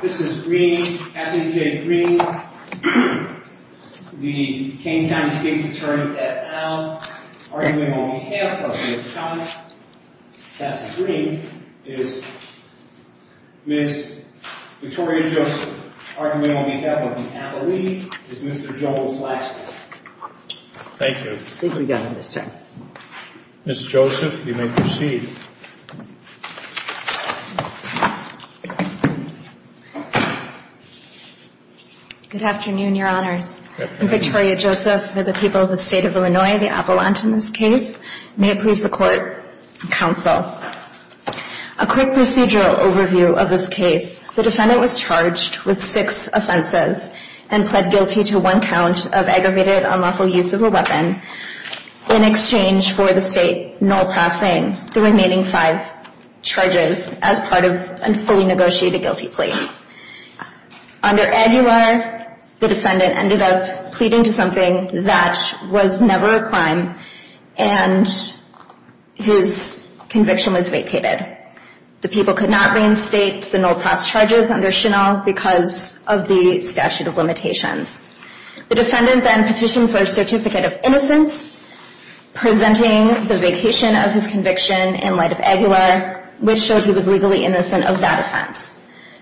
This is Green, Kassidy J. Green, the Kane County States Attorney at Al. Arguing on behalf of Ms. Kassidy Green is Ms. Victoria Joseph. Arguing on behalf of Ms. Natalie is Mr. Joel Flaxman. Thank you. I think we got him this time. Ms. Joseph, you may proceed. Good afternoon, Your Honors. I'm Victoria Joseph for the people of the State of Illinois, the Appellant in this case. May it please the Court and Counsel. A quick procedural overview of this case. The defendant was charged with six offenses and pled guilty to one count of aggravated unlawful use of a weapon. In exchange for the State null-passing the remaining five charges as part of a fully negotiated guilty plea. Under Aguilar, the defendant ended up pleading to something that was never a crime and his conviction was vacated. The people could not reinstate the null-pass charges under Chenal because of the statute of limitations. The defendant then petitioned for a certificate of innocence, presenting the vacation of his conviction in light of Aguilar, which showed he was legally innocent of that offense.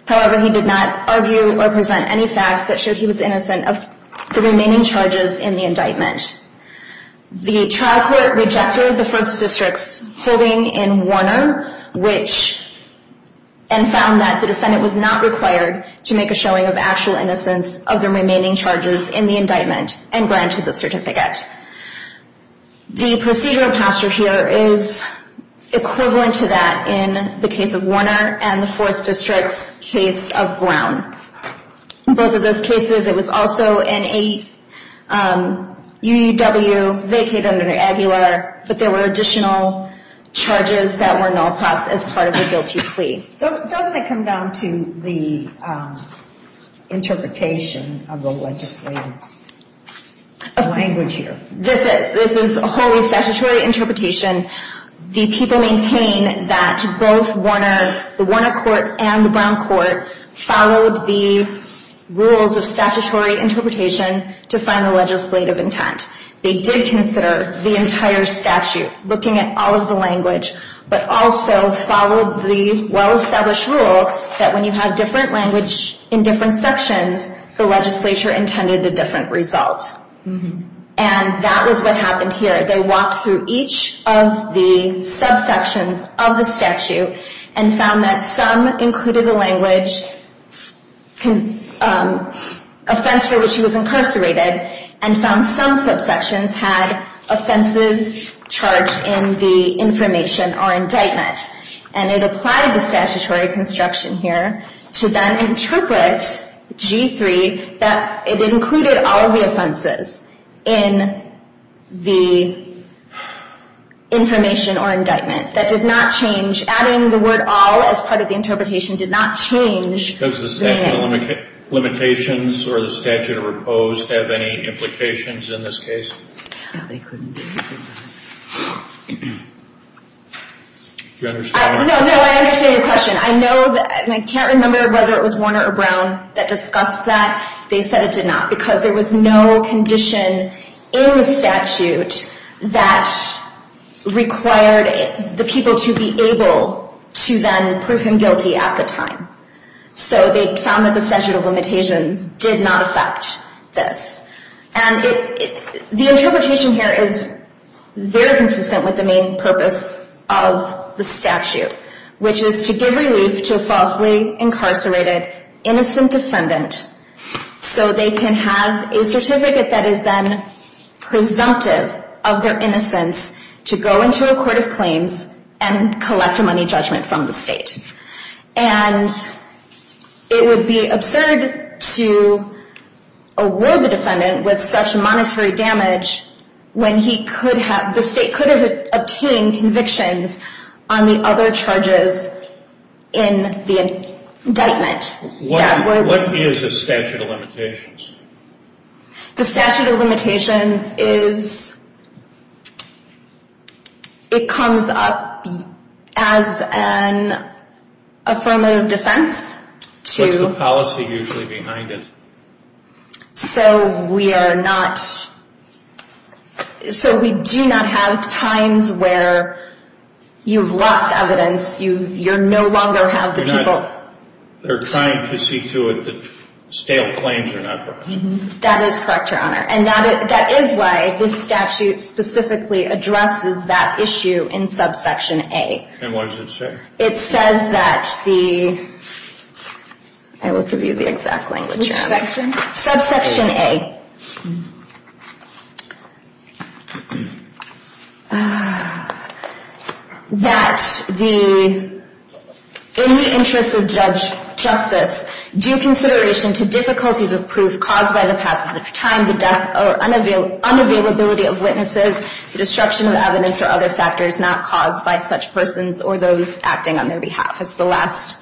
However, he did not argue or present any facts that showed he was innocent of the remaining charges in the indictment. The trial court rejected the first district's holding in Warner, which found that the defendant was not required to make a showing of actual innocence of the remaining charges in the indictment and granted the certificate. The procedural posture here is equivalent to that in the case of Warner and the Fourth District's case of Brown. In both of those cases, it was also in a UUW, vacated under Aguilar, but there were additional charges that were null-passed as part of a guilty plea. Doesn't it come down to the interpretation of the legislative language here? This is wholly statutory interpretation. The people maintain that both Warner, the Warner court and the Brown court, followed the rules of statutory interpretation to find the legislative intent. They did consider the entire statute, looking at all of the language, but also followed the well-established rule that when you had different language in different sections, the legislature intended a different result. And that was what happened here. They walked through each of the subsections of the statute and found that some included the language, offense for which he was incarcerated, and found some subsections had offenses charged in the information or indictment. And it applied the statutory construction here to then interpret G3 that it included all of the offenses in the information or indictment. That did not change. Adding the word all as part of the interpretation did not change the name. Does the statute of limitations or the statute of repose have any implications in this case? No, they couldn't. Do you understand? No, no, I understand your question. I know, and I can't remember whether it was Warner or Brown that discussed that. They said it did not because there was no condition in the statute that required the people to be able to then prove him guilty at the time. So they found that the statute of limitations did not affect this. And the interpretation here is very consistent with the main purpose of the statute, which is to give relief to a falsely incarcerated innocent defendant so they can have a certificate that is then presumptive of their innocence to go into a court of claims and collect a money judgment from the state. And it would be absurd to award the defendant with such monetary damage when the state could have obtained convictions on the other charges in the indictment. What is the statute of limitations? The statute of limitations comes up as an affirmative defense. What's the policy usually behind it? So we do not have times where you've lost evidence. You no longer have the people. They're trying to see to it that stale claims are not brought. That is correct, Your Honor. And that is why this statute specifically addresses that issue in subsection A. And what does it say? It says that the – I will give you the exact language, Your Honor. Which section? Subsection A. That in the interest of justice, due consideration to difficulties of proof caused by the passage of time, the unavailability of witnesses, the destruction of evidence or other factors not caused by such persons or those acting on their behalf. It's the last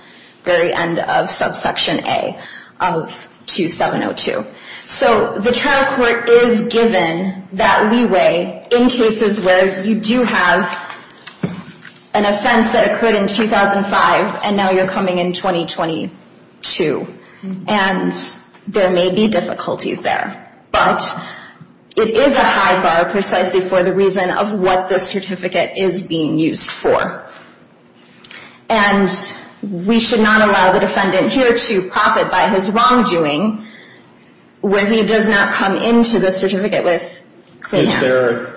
very end of subsection A of 2702. So the trial court is given that leeway in cases where you do have an offense that occurred in 2005 and now you're coming in 2022. And there may be difficulties there. But it is a high bar precisely for the reason of what this certificate is being used for. And we should not allow the defendant here to profit by his wrongdoing when he does not come into the certificate with clean hands. Is there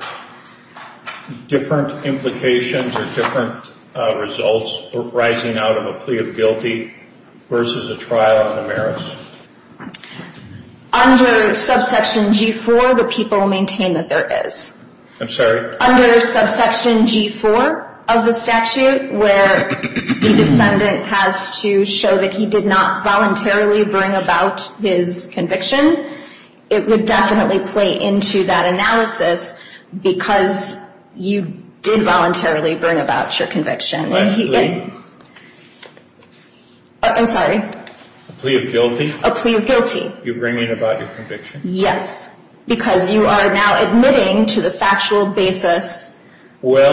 different implications or different results arising out of a plea of guilty versus a trial on the merits? Under subsection G4, the people maintain that there is. I'm sorry? Under subsection G4 of the statute where the defendant has to show that he did not voluntarily bring about his conviction, it would definitely play into that analysis because you did voluntarily bring about your conviction. My plea? I'm sorry? A plea of guilty? A plea of guilty. You bring in about your conviction? Yes, because you are now admitting to the factual basis, which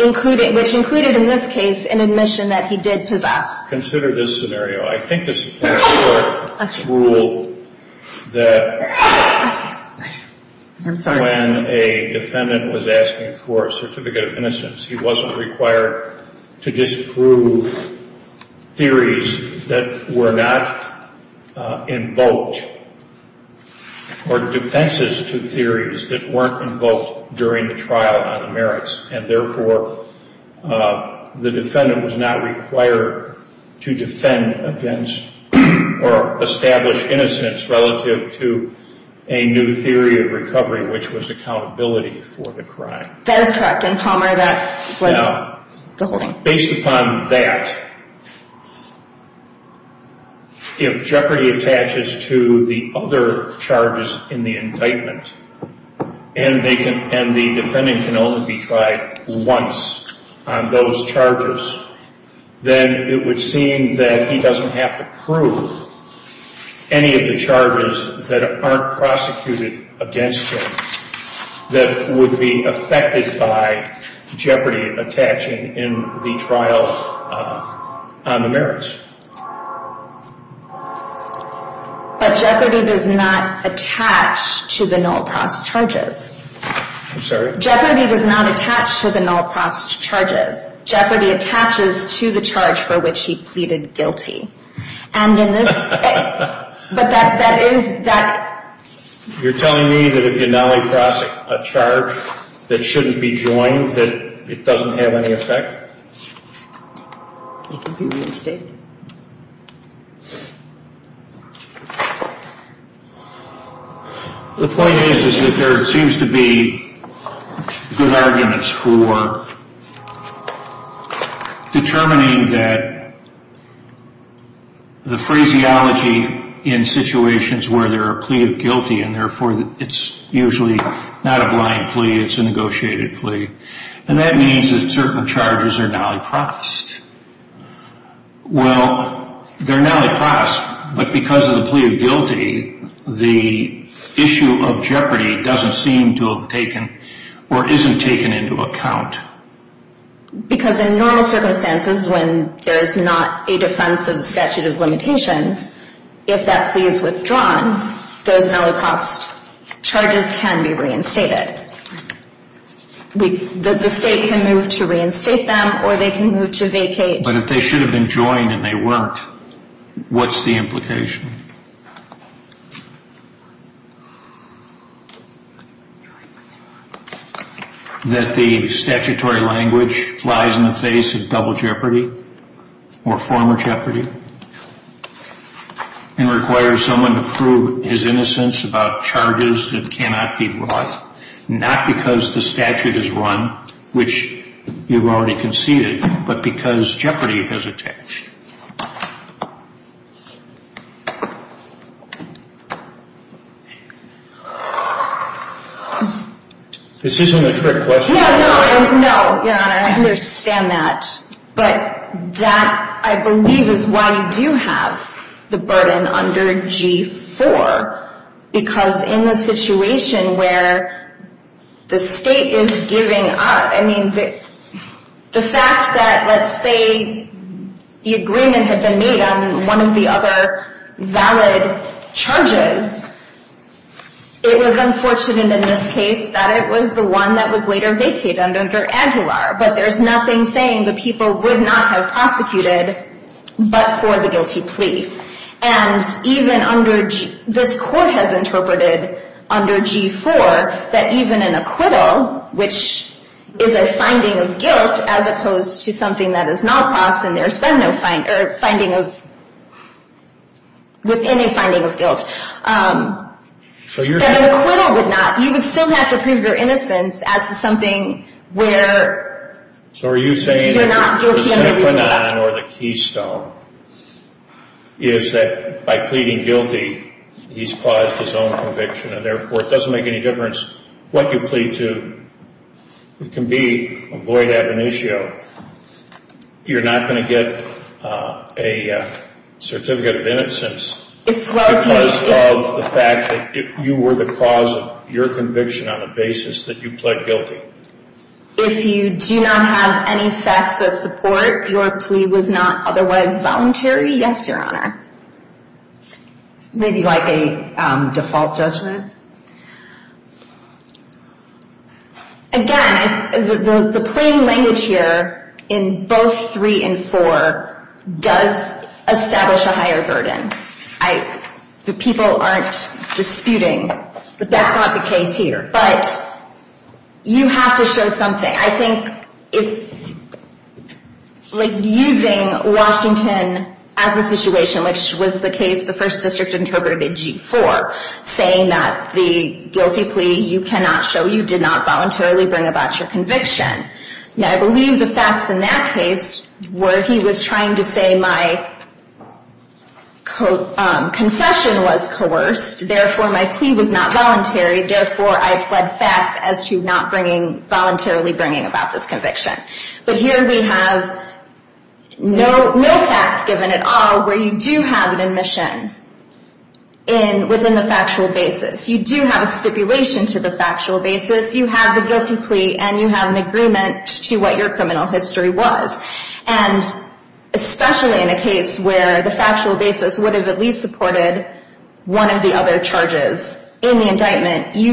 included in this case an admission that he did possess. Consider this scenario. I think this court ruled that when a defendant was asking for a certificate of innocence, he wasn't required to disprove theories that were not invoked or defenses to theories that weren't invoked during the trial on the merits. And, therefore, the defendant was not required to defend against or establish innocence relative to a new theory of recovery, which was accountability for the crime. That is correct. And, Palmer, that was the holding. Based upon that, if jeopardy attaches to the other charges in the indictment and the defendant can only be tried once on those charges, then it would seem that he doesn't have to prove any of the charges that aren't prosecuted against him that would be affected by jeopardy attaching in the trial on the merits. But jeopardy does not attach to the Noel Prost charges. I'm sorry? Jeopardy does not attach to the Noel Prost charges. Jeopardy attaches to the charge for which he pleaded guilty. You're telling me that if you Noel Prost a charge that shouldn't be joined, that it doesn't have any effect? You can be reinstated. The point is that there seems to be good arguments for determining that the phraseology in situations where there are plea of guilty and therefore it's usually not a blind plea, it's a negotiated plea, and that means that certain charges are Noel Prost. Well, they're Noel Prost, but because of the plea of guilty, the issue of jeopardy doesn't seem to have taken or isn't taken into account. Because in normal circumstances when there's not a defense of the statute of limitations, if that plea is withdrawn, those Noel Prost charges can be reinstated. The state can move to reinstate them or they can move to vacate. But if they should have been joined and they weren't, what's the implication? That the statutory language flies in the face of double jeopardy or former jeopardy and requires someone to prove his innocence about charges that cannot be brought, not because the statute is run, which you've already conceded, but because jeopardy has attached. This isn't a trick question. No, no, Your Honor, I understand that. But that, I believe, is why you do have the burden under G-4, because in the situation where the state is giving up, I mean, the fact that, let's say, the agreement had been made on one of the other valid charges, it was unfortunate in this case that it was the one that was later vacated under Aguilar. But there's nothing saying the people would not have prosecuted but for the guilty plea. And even under G-4, this court has interpreted under G-4 that even an acquittal, which is a finding of guilt as opposed to something that is not lost and there's been no finding of guilt, that an acquittal would not, you would still have to prove your innocence as to something where you're not guilty. The second phenomenon or the keystone is that by pleading guilty, he's caused his own conviction, and therefore it doesn't make any difference what you plead to. It can be a void ad initio. You're not going to get a certificate of innocence because of the fact that you were the cause of your conviction on the basis that you pled guilty. If you do not have any facts of support, your plea was not otherwise voluntary? Yes, Your Honor. Maybe like a default judgment? Again, the plain language here in both 3 and 4 does establish a higher burden. The people aren't disputing. But that's not the case here. But you have to show something. I think using Washington as a situation, which was the case the First District interpreted in G-4, saying that the guilty plea you cannot show you did not voluntarily bring about your conviction. I believe the facts in that case were he was trying to say my confession was coerced, therefore my plea was not voluntary, therefore I pled facts as to not voluntarily bringing about this conviction. But here we have no facts given at all where you do have an admission within the factual basis. You do have a stipulation to the factual basis. You have the guilty plea, and you have an agreement to what your criminal history was. And especially in a case where the factual basis would have at least supported one of the other charges in the indictment, you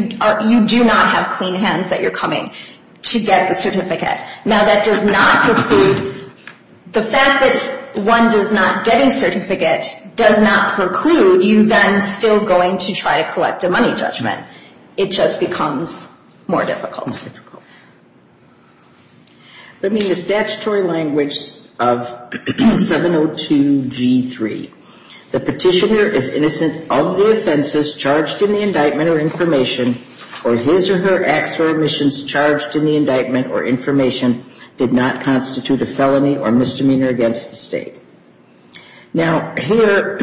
do not have clean hands that you're coming to get the certificate. Now, that does not preclude the fact that one does not get a certificate does not preclude you then still going to try to collect a money judgment. It just becomes more difficult. Let me use statutory language of 702 G-3. The petitioner is innocent of the offenses charged in the indictment or information, or his or her acts or omissions charged in the indictment or information did not constitute a felony or misdemeanor against the State. Now, here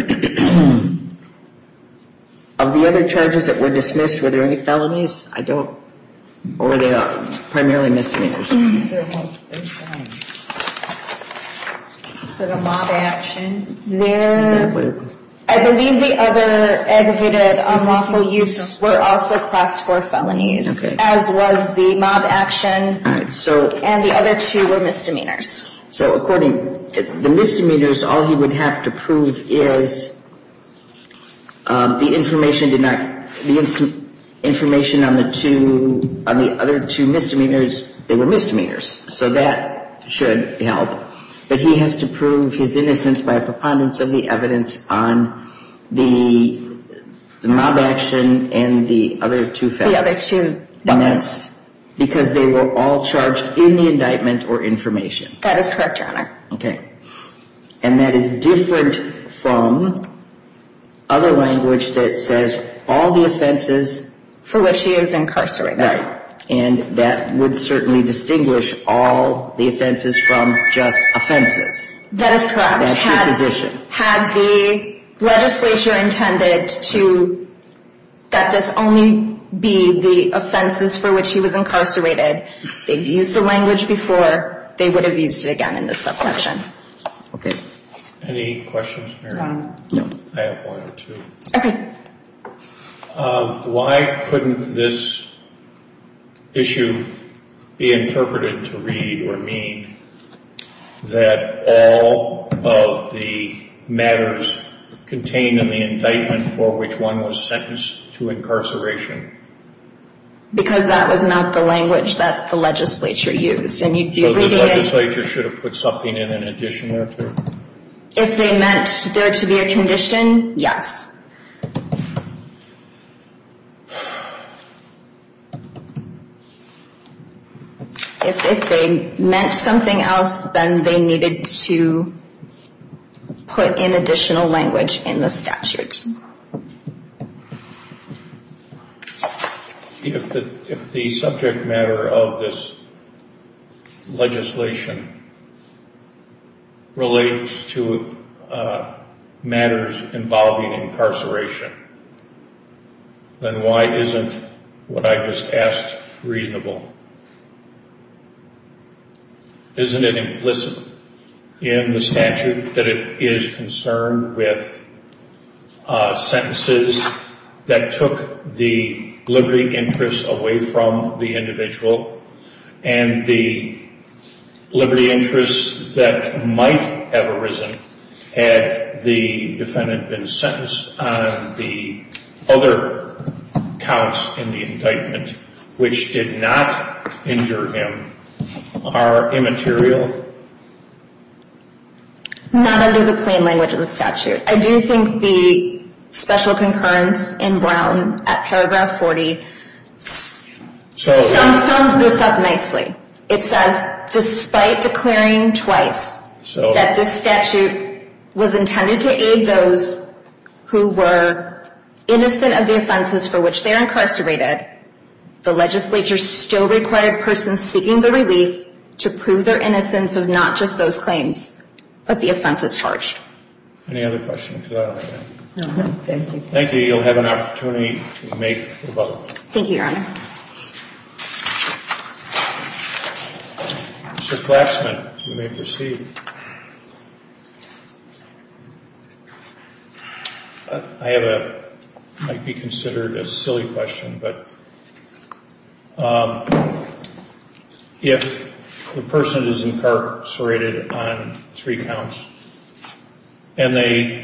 of the other charges that were dismissed, were there any felonies? I don't. Or are they primarily misdemeanors? I believe the other aggravated unlawful use were also class 4 felonies, as was the mob action. All right. And the other two were misdemeanors. So according to the misdemeanors, all he would have to prove is the information did not, the information on the two, on the other two misdemeanors, they were misdemeanors. So that should help. But he has to prove his innocence by a preponderance of the evidence on the mob action and the other two felonies. The other two felonies. And that's because they were all charged in the indictment or information. That is correct, Your Honor. Okay. And that is different from other language that says all the offenses. For which he is incarcerated. Right. And that would certainly distinguish all the offenses from just offenses. That is correct. That's your position. Had the legislature intended to let this only be the offenses for which he was incarcerated, they've used the language before, they would have used it again in this subsection. Okay. Any questions, Mary? No. I have one or two. Okay. Why couldn't this issue be interpreted to read or mean that all of the matters contained in the indictment for which one was sentenced to incarceration? Because that was not the language that the legislature used. So the legislature should have put something in in addition to that? If they meant there to be a condition, yes. If they meant something else, then they needed to put in additional language in the statute. Mr. Dixon? If the subject matter of this legislation relates to matters involving incarceration, then why isn't what I just asked reasonable? Isn't it implicit in the statute that it is concerned with sentences that took the liberty interest away from the individual and the liberty interest that might have arisen had the defendant been sentenced on the other counts in the indictment, which did not injure him, are immaterial? Not under the plain language of the statute. I do think the special concurrence in Brown at paragraph 40 sums this up nicely. It says, despite declaring twice that this statute was intended to aid those who were innocent of the offenses for which they are incarcerated, the legislature still required persons seeking the relief to prove their innocence of not just those claims, but the offenses charged. Any other questions? Thank you. Thank you. You'll have an opportunity to make a vote. Thank you, Your Honor. Mr. Klatsman, you may proceed. Thank you. I have what might be considered a silly question, but if the person is incarcerated on three counts and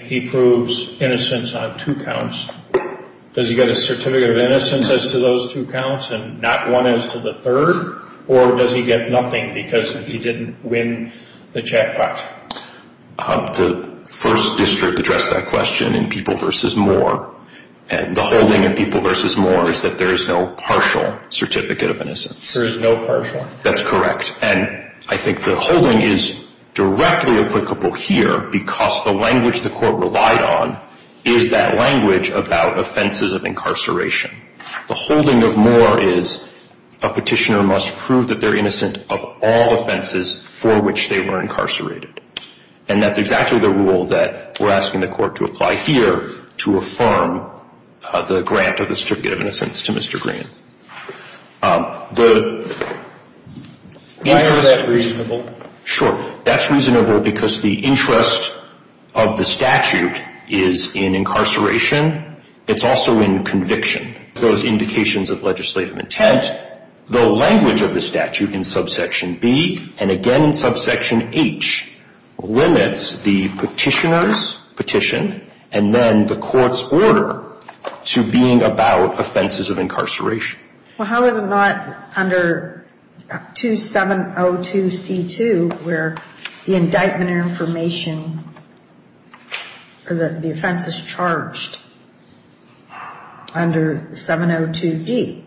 he proves innocence on two counts, does he get a certificate of innocence as to those two counts and not one as to the third? Or does he get nothing because he didn't win the jackpot? The First District addressed that question in People v. Moore. The holding in People v. Moore is that there is no partial certificate of innocence. There is no partial. That's correct. And I think the holding is directly applicable here because the language the court relied on is that language about offenses of incarceration. The holding of Moore is a petitioner must prove that they're innocent of all offenses for which they were incarcerated. And that's exactly the rule that we're asking the court to apply here to affirm the grant of the certificate of innocence to Mr. Green. Is that reasonable? Sure. That's reasonable because the interest of the statute is in incarceration. It's also in conviction. Those indications of legislative intent, the language of the statute in subsection B, and again in subsection H, limits the petitioner's petition and then the court's order to being about offenses of incarceration. Well, how is it not under 2702C2 where the indictment or information or the offense is charged under 702D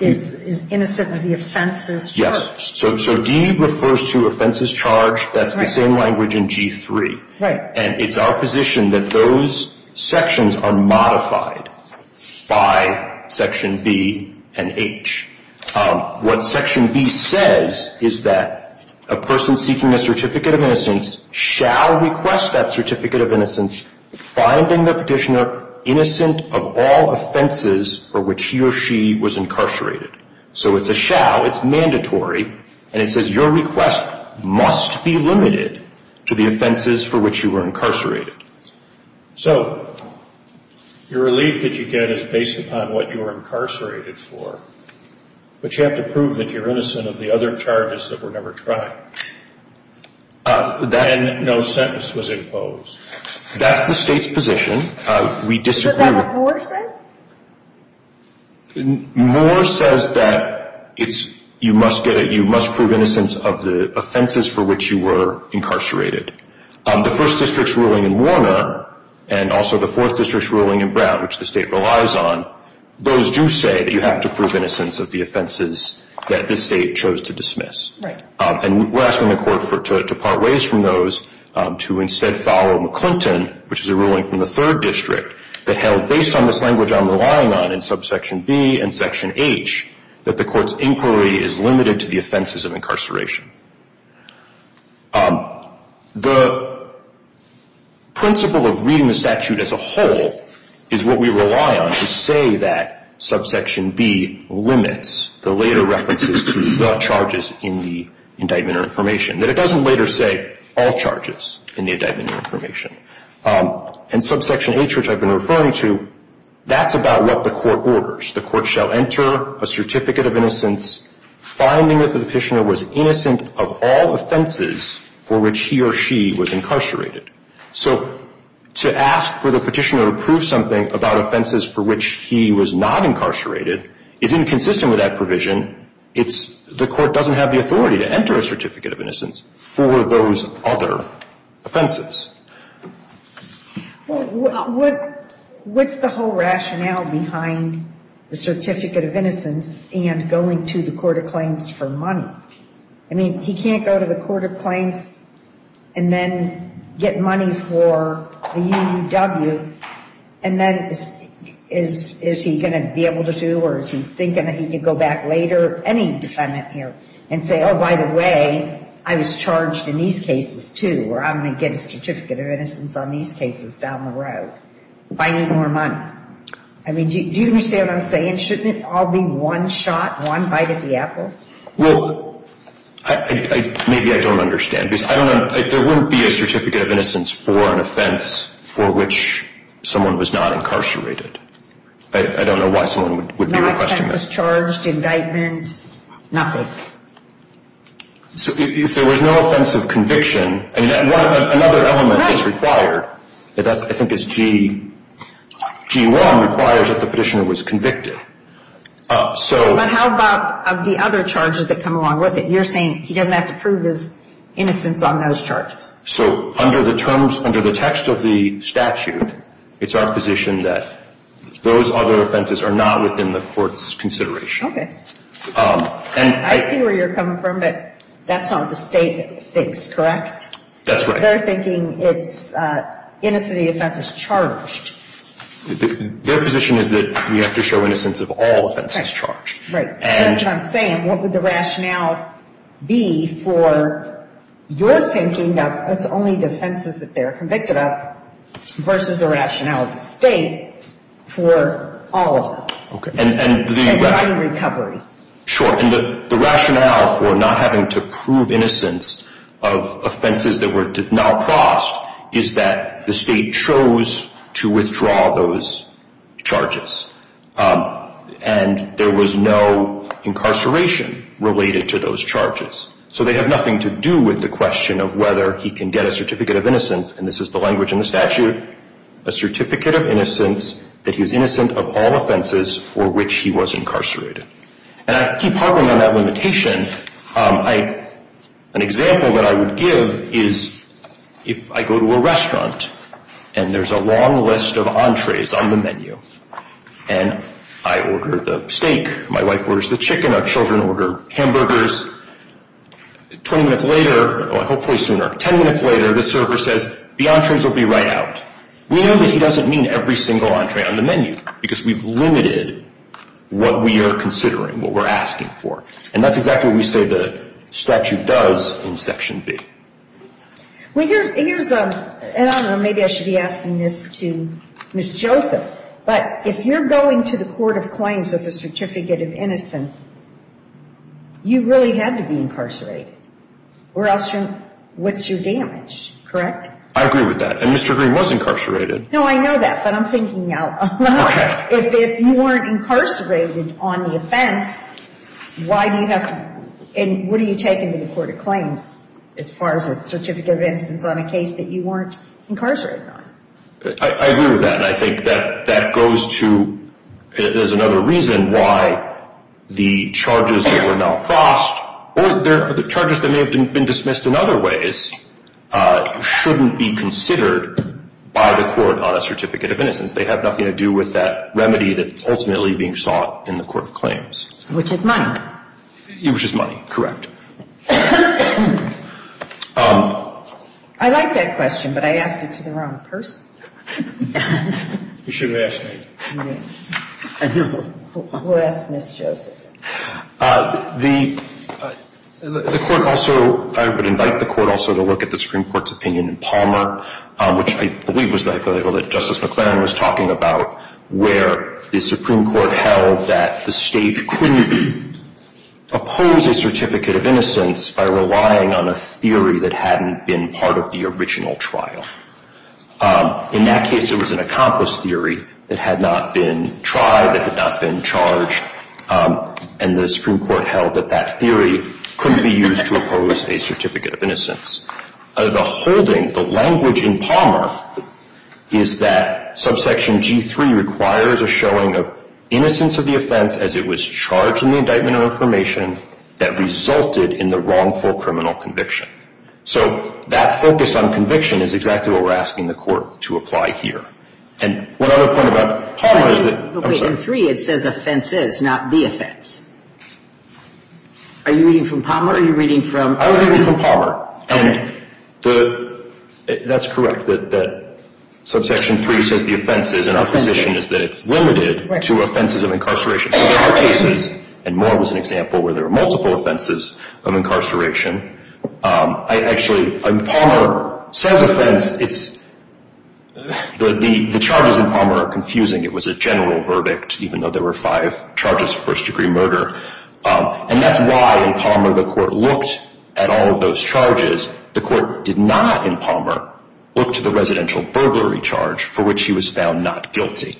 is innocent of the offenses charged? Yes. So D refers to offenses charged. That's the same language in G3. Right. And it's our position that those sections are modified by section B and H. What section B says is that a person seeking a certificate of innocence shall request that certificate of innocence finding the petitioner innocent of all offenses for which he or she was incarcerated. So it's a shall. It's mandatory. And it says your request must be limited to the offenses for which you were incarcerated. So your relief that you get is based upon what you were incarcerated for, but you have to prove that you're innocent of the other charges that were never tried. And no sentence was imposed. That's the state's position. We disagree. Is that what Moore says? Moore says that you must prove innocence of the offenses for which you were incarcerated. The first district's ruling in Warner and also the fourth district's ruling in Brown, which the state relies on, those do say that you have to prove innocence of the offenses that the state chose to dismiss. Right. And we're asking the court to part ways from those to instead follow McClinton, which is a ruling from the third district that held, based on this language I'm relying on in subsection B and section H, that the court's inquiry is limited to the offenses of incarceration. The principle of reading the statute as a whole is what we rely on to say that subsection B limits the later references to the charges in the indictment or information, that it doesn't later say all charges in the indictment or information. And subsection H, which I've been referring to, that's about what the court orders. The court shall enter a certificate of innocence, finding that the petitioner was innocent of all offenses for which he or she was incarcerated. So to ask for the petitioner to prove something about offenses for which he was not incarcerated is inconsistent with that provision. The court doesn't have the authority to enter a certificate of innocence for those other offenses. Well, what's the whole rationale behind the certificate of innocence and going to the court of claims for money? I mean, he can't go to the court of claims and then get money for the UUW, and then is he going to be able to do or is he thinking that he could go back later, any defendant here, and say, oh, by the way, I was charged in these cases, too, or I'm going to get a certificate of innocence on these cases down the road if I need more money. I mean, do you understand what I'm saying? Shouldn't it all be one shot, one bite at the apple? Well, maybe I don't understand, because I don't know. There wouldn't be a certificate of innocence for an offense for which someone was not incarcerated. I don't know why someone would be requesting that. No offenses charged, indictments, nothing. So if there was no offense of conviction, another element that's required, I think it's G1, requires that the petitioner was convicted. But how about the other charges that come along with it? You're saying he doesn't have to prove his innocence on those charges. So under the terms, under the text of the statute, it's our position that those other offenses are not within the court's consideration. Okay. I see where you're coming from, but that's not what the state thinks, correct? That's right. They're thinking it's innocency offenses charged. Their position is that we have to show innocence of all offenses charged. Right. That's what I'm saying. What would the rationale be for your thinking that it's only the offenses that they're convicted of versus the rationale of the state for all of them? Okay. And driving recovery. Sure. And the rationale for not having to prove innocence of offenses that were now crossed is that the state chose to withdraw those charges. And there was no incarceration related to those charges. So they have nothing to do with the question of whether he can get a certificate of innocence, and this is the language in the statute, a certificate of innocence that he's innocent of all offenses for which he was incarcerated. And I keep harping on that limitation. An example that I would give is if I go to a restaurant and there's a long list of entrees on the menu, and I order the steak, my wife orders the chicken, our children order hamburgers, 20 minutes later, or hopefully sooner, 10 minutes later, the server says, the entrees will be right out. We know that he doesn't mean every single entree on the menu because we've limited what we are considering, what we're asking for. And that's exactly what we say the statute does in Section B. Well, here's a, and I don't know, maybe I should be asking this to Ms. Joseph, but if you're going to the court of claims with a certificate of innocence, you really had to be incarcerated, or else what's your damage, correct? I agree with that. And Mr. Green was incarcerated. No, I know that, but I'm thinking out loud. If you weren't incarcerated on the offense, why do you have to, and what do you take into the court of claims as far as a certificate of innocence on a case that you weren't incarcerated on? I agree with that, and I think that that goes to, there's another reason why the charges that were now crossed, or the charges that may have been dismissed in other ways, shouldn't be considered by the court on a certificate of innocence. They have nothing to do with that remedy that's ultimately being sought in the court of claims. Which is money. Which is money, correct. I like that question, but I asked it to the wrong person. You should have asked me. Who asked Ms. Joseph? The court also, I would invite the court also to look at the Supreme Court's opinion in Palmer, which I believe was the article that Justice McClaren was talking about, where the Supreme Court held that the State couldn't oppose a certificate of innocence by relying on a theory that hadn't been part of the original trial. In that case, it was an accomplished theory that had not been tried, that had not been charged, and the Supreme Court held that that theory couldn't be used to oppose a certificate of innocence. The holding, the language in Palmer is that subsection G3 requires a showing of innocence of the offense as it was charged in the indictment of information that resulted in the wrongful criminal conviction. So that focus on conviction is exactly what we're asking the court to apply here. And one other point about Palmer is that... Wait, in 3 it says offenses, not the offense. Are you reading from Palmer or are you reading from... I was reading from Palmer, and that's correct, that subsection 3 says the offenses, and our position is that it's limited to offenses of incarceration. So there were cases, and Moore was an example, where there were multiple offenses of incarceration. Actually, Palmer says offense. The charges in Palmer are confusing. It was a general verdict, even though there were five charges of first-degree murder. And that's why in Palmer the court looked at all of those charges. The court did not in Palmer look to the residential burglary charge for which he was found not guilty.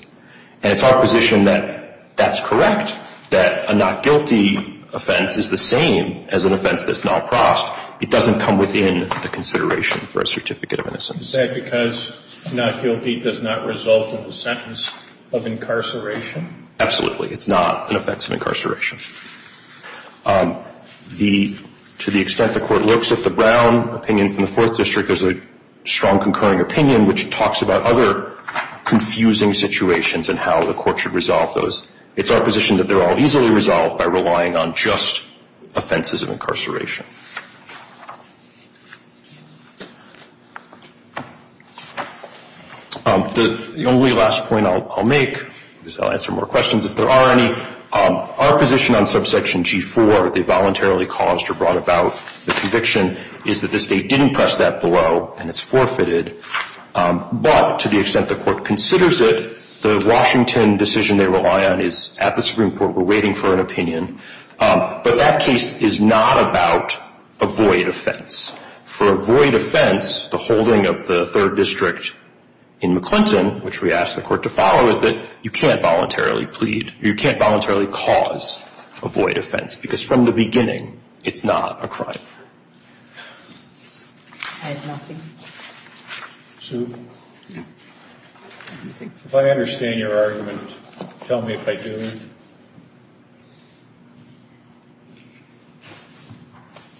And it's our position that that's correct, that a not guilty offense is the same as an offense that's not crossed. It doesn't come within the consideration for a certificate of innocence. Is that because not guilty does not result in the sentence of incarceration? Absolutely. It's not an offense of incarceration. To the extent the court looks at the Brown opinion from the Fourth District, there's a strong concurring opinion which talks about other confusing situations and how the court should resolve those. It's our position that they're all easily resolved by relying on just offenses of incarceration. The only last point I'll make is I'll answer more questions if there are any. Our position on Subsection G4, if they voluntarily caused or brought about the conviction, is that the state didn't press that below and it's forfeited. But to the extent the court considers it, the Washington decision they rely on is at the Supreme Court. We're waiting for an opinion. But that case is not about a void offense. For a void offense, the holding of the Third District in McClinton, which we ask the court to follow, is that you can't voluntarily cause a void offense because from the beginning it's not a crime. I have nothing. Sue? If I understand your argument, tell me if I do.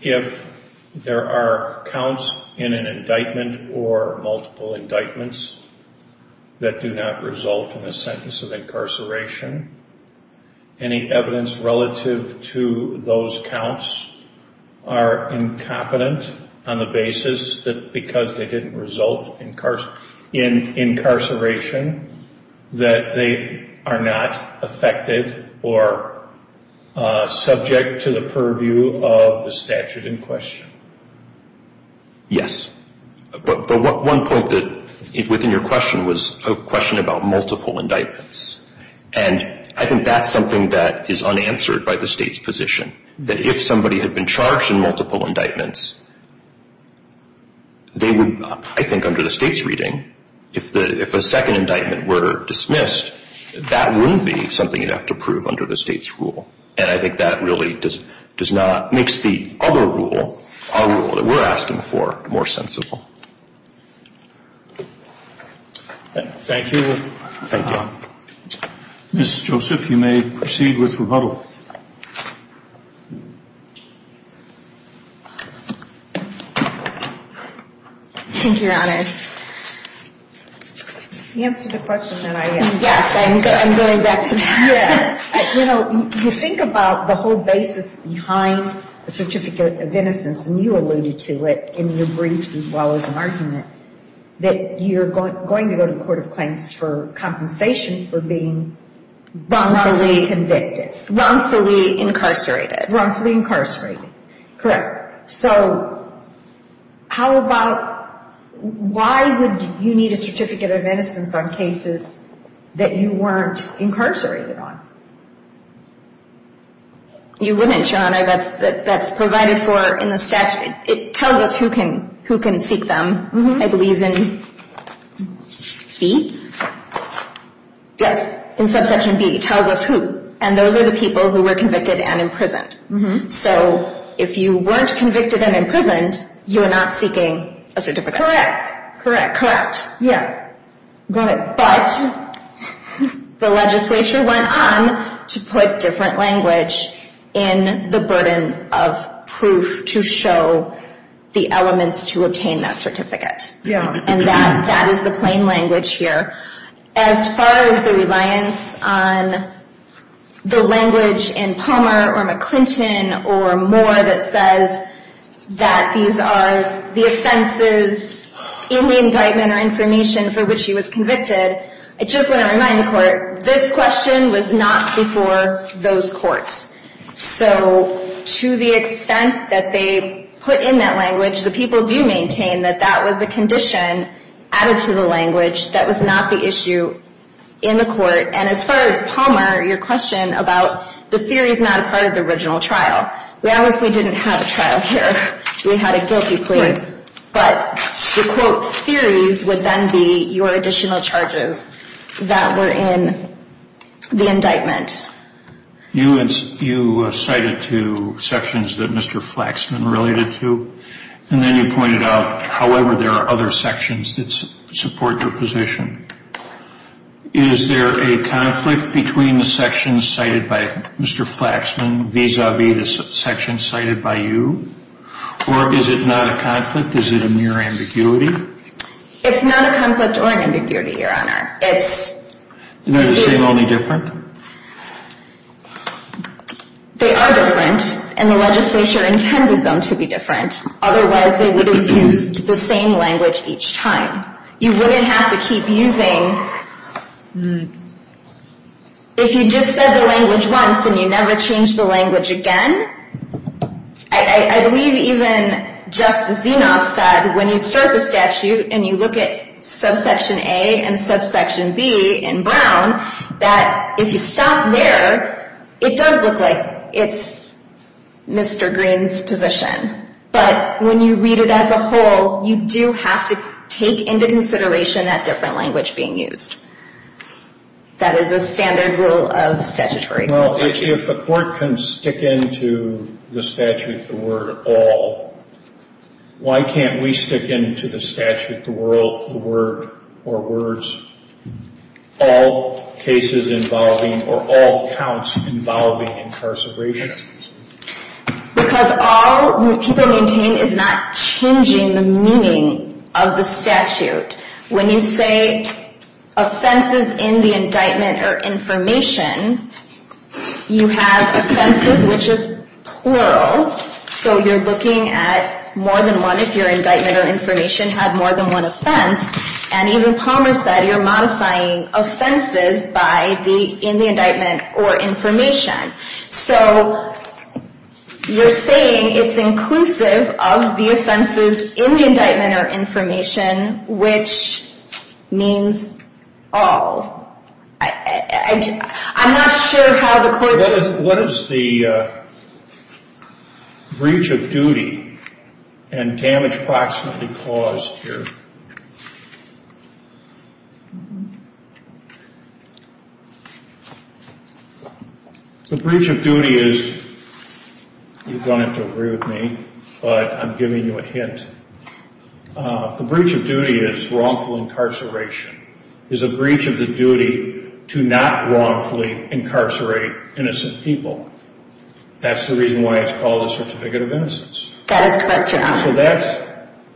If there are counts in an indictment or multiple indictments that do not result in a sentence of incarceration, any evidence relative to those counts are incompetent on the basis that because they didn't result in incarceration, that they are not affected or subject to the purview of the statute in question. Yes. But one point within your question was a question about multiple indictments. And I think that's something that is unanswered by the state's position, that if somebody had been charged in multiple indictments, they would, I think under the state's reading, if a second indictment were dismissed, that wouldn't be something you'd have to prove under the state's rule. And I think that really does not make the other rule, our rule that we're asking for, more sensible. Thank you. Thank you. Ms. Joseph, you may proceed with rebuttal. Thank you, Your Honors. Answer the question that I asked. Yes, I'm going back to that. Yes. You know, you think about the whole basis behind the certificate of innocence, and you alluded to it in your briefs as well as in argument, that you're going to go to the court of claims for compensation for being wrongfully convicted. Wrongfully incarcerated. Wrongfully incarcerated. Correct. So how about, why would you need a certificate of innocence on cases that you weren't incarcerated on? You wouldn't, Your Honor. That's provided for in the statute. It tells us who can seek them. I believe in B? Yes. In subsection B. It tells us who. And those are the people who were convicted and imprisoned. So if you weren't convicted and imprisoned, you are not seeking a certificate. Correct. Correct. Correct. Yeah. Got it. But the legislature went on to put different language in the burden of proof to show the elements to obtain that certificate. Yeah. And that is the plain language here. As far as the reliance on the language in Palmer or McClinton or Moore that says that these are the offenses in the indictment or information for which he was convicted, I just want to remind the court, this question was not before those courts. So to the extent that they put in that language, the people do maintain that that was a condition added to the language that was not the issue in the court. And as far as Palmer, your question about the theory is not a part of the original trial. We obviously didn't have a trial here. We had a guilty plea. But the quote theories would then be your additional charges that were in the indictment. You cited two sections that Mr. Flaxman related to, and then you pointed out however there are other sections that support your position. Is there a conflict between the sections cited by Mr. Flaxman vis-a-vis the sections cited by you? Or is it not a conflict? Is it a mere ambiguity? It's not a conflict or an ambiguity, Your Honor. It's... They seem only different? They are different, and the legislature intended them to be different. Otherwise, they would have used the same language each time. You wouldn't have to keep using... If you just said the language once and you never changed the language again, I believe even Justice Zinoff said, when you start the statute and you look at subsection A and subsection B in Brown, that if you stop there, it does look like it's Mr. Green's position. But when you read it as a whole, you do have to take into consideration that different language being used. That is a standard rule of statutory. Well, if a court can stick into the statute, the word, all, why can't we stick into the statute, the word, or words, all cases involving or all counts involving incarceration? Because all people maintain is not changing the meaning of the statute. When you say offenses in the indictment or information, you have offenses, which is plural. So you're looking at more than one, if your indictment or information had more than one offense. And even Palmer said you're modifying offenses in the indictment or information. So you're saying it's inclusive of the offenses in the indictment or information, which means all. I'm not sure how the courts... The breach of duty is, you're going to have to agree with me, but I'm giving you a hint. The breach of duty is wrongful incarceration. It's a breach of the duty to not wrongfully incarcerate innocent people. That's the reason why it's called a certificate of innocence. That is correct, Your Honor. So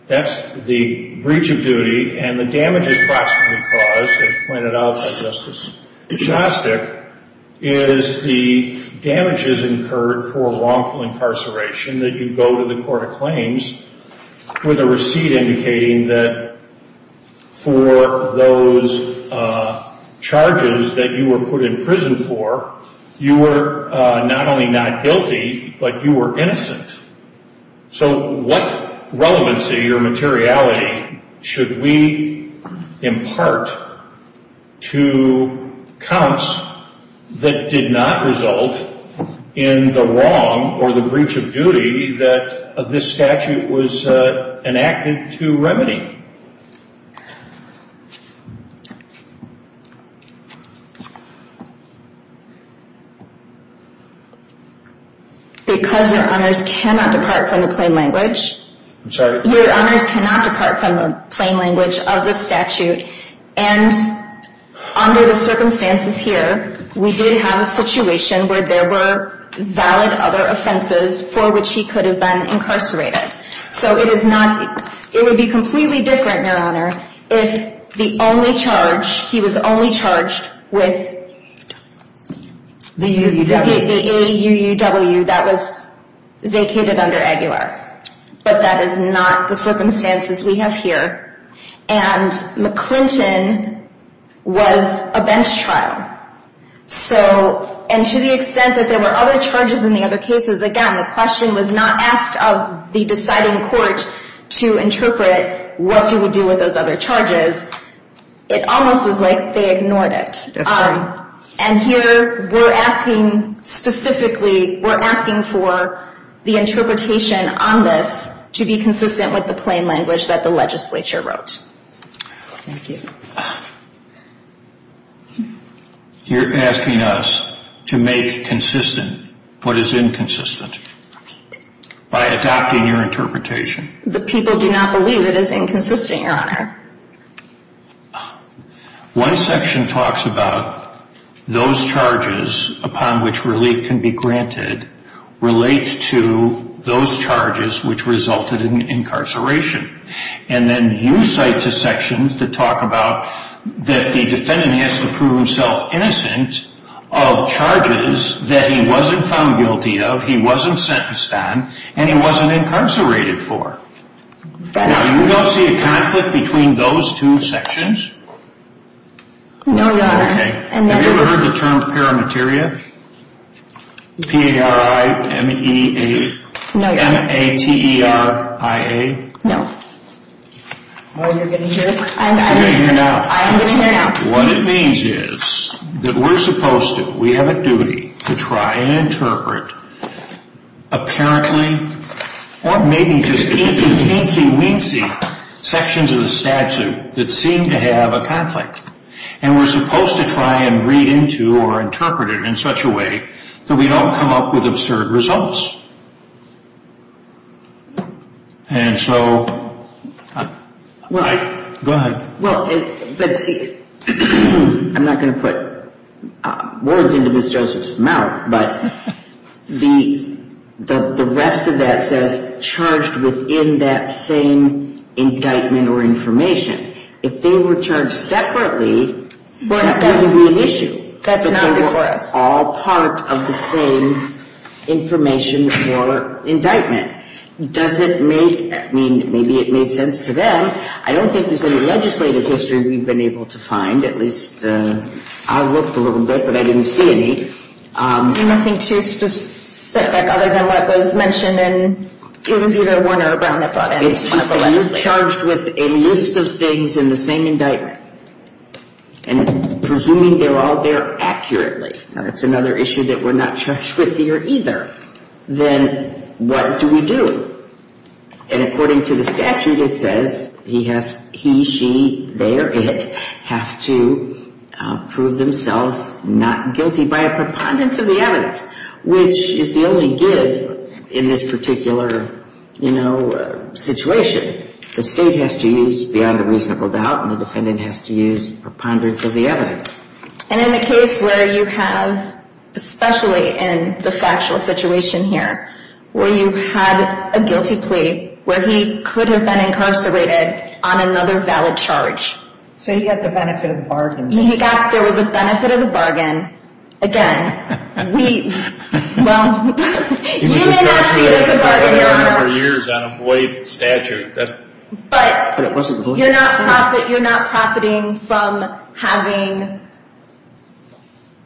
that's the breach of duty. And the damage is approximately caused, as pointed out by Justice Shostak, is the damage is incurred for wrongful incarceration that you go to the court of claims with a receipt indicating that for those charges that you were put in prison for, you were not only not guilty, but you were innocent. So what relevancy or materiality should we impart to counts that did not result in the wrong or the breach of duty that this statute was enacted to remedy? Because Your Honors cannot depart from the plain language... I'm sorry? Your Honors cannot depart from the plain language of the statute. And under the circumstances here, we did have a situation where there were valid other offenses for which he could have been incarcerated. It would be completely different if he had not been incarcerated. It would be completely different, Your Honor, if he was only charged with the AUUW that was vacated under Aguilar. But that is not the circumstances we have here. And McClinton was a bench trial. And to the extent that there were other charges in the other cases, again, the question was not asked of the deciding court to interpret what you would do with those other charges. It almost was like they ignored it. And here we're asking specifically, we're asking for the interpretation on this to be consistent with the plain language that the legislature wrote. Thank you. Your Honor, you're asking us to make consistent what is inconsistent by adopting your interpretation. The people do not believe it is inconsistent, Your Honor. One section talks about those charges upon which relief can be granted relate to those charges which resulted in incarceration. And then you cite two sections that talk about that the defendant has to prove himself innocent of charges that he wasn't found guilty of, he wasn't sentenced on, and he wasn't incarcerated for. Do you not see a conflict between those two sections? No, Your Honor. Have you ever heard the term paramateria? P-A-R-I-M-E-A-T-E-R-I-A? No. Oh, you're getting here? I'm getting here now. I'm getting here now. What it means is that we're supposed to, we have a duty to try and interpret apparently or maybe just teensy-weensy sections of the statute that seem to have a conflict. And we're supposed to try and read into or interpret it in such a way that we don't come up with absurd results. And so, go ahead. Well, let's see. I'm not going to put words into Ms. Joseph's mouth, but the rest of that says charged within that same indictment or information. If they were charged separately, that would be an issue. That's not before us. That's all part of the same information for indictment. Does it make, I mean, maybe it made sense to them. I don't think there's any legislative history we've been able to find, at least I looked a little bit, but I didn't see any. Nothing too specific other than what was mentioned in either Warner or Brown that brought that up. It's just that you're charged with a list of things in the same indictment and presuming they're all there accurately. Now, that's another issue that we're not charged with here either. Then what do we do? And according to the statute, it says he, she, they, or it have to prove themselves not guilty by a preponderance of the evidence, which is the only give in this particular, you know, situation. The State has to use beyond a reasonable doubt and the defendant has to use preponderance of the evidence. And in the case where you have, especially in the factual situation here, where you had a guilty plea where he could have been incarcerated on another valid charge. So he got the benefit of the bargain. He got, there was a benefit of the bargain. Again, we, well, you may not see it as a bargain, Your Honor. For years on a void statute. But you're not profiting from having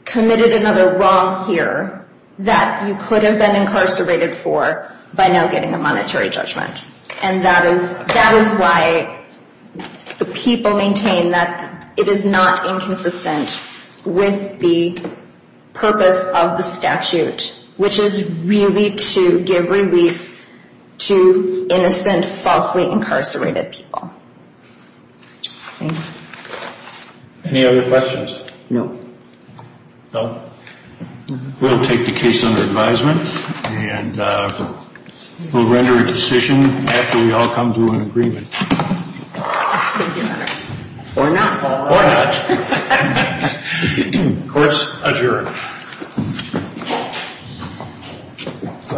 committed another wrong here that you could have been incarcerated for by now getting a monetary judgment. And that is why the people maintain that it is not inconsistent with the purpose of the statute, which is really to give relief to innocent, falsely incarcerated people. Thank you. Any other questions? No. No? We'll take the case under advisement and we'll render a decision after we all come to an agreement. Or not. Or not. Court's adjourned. Go ahead. Go ahead.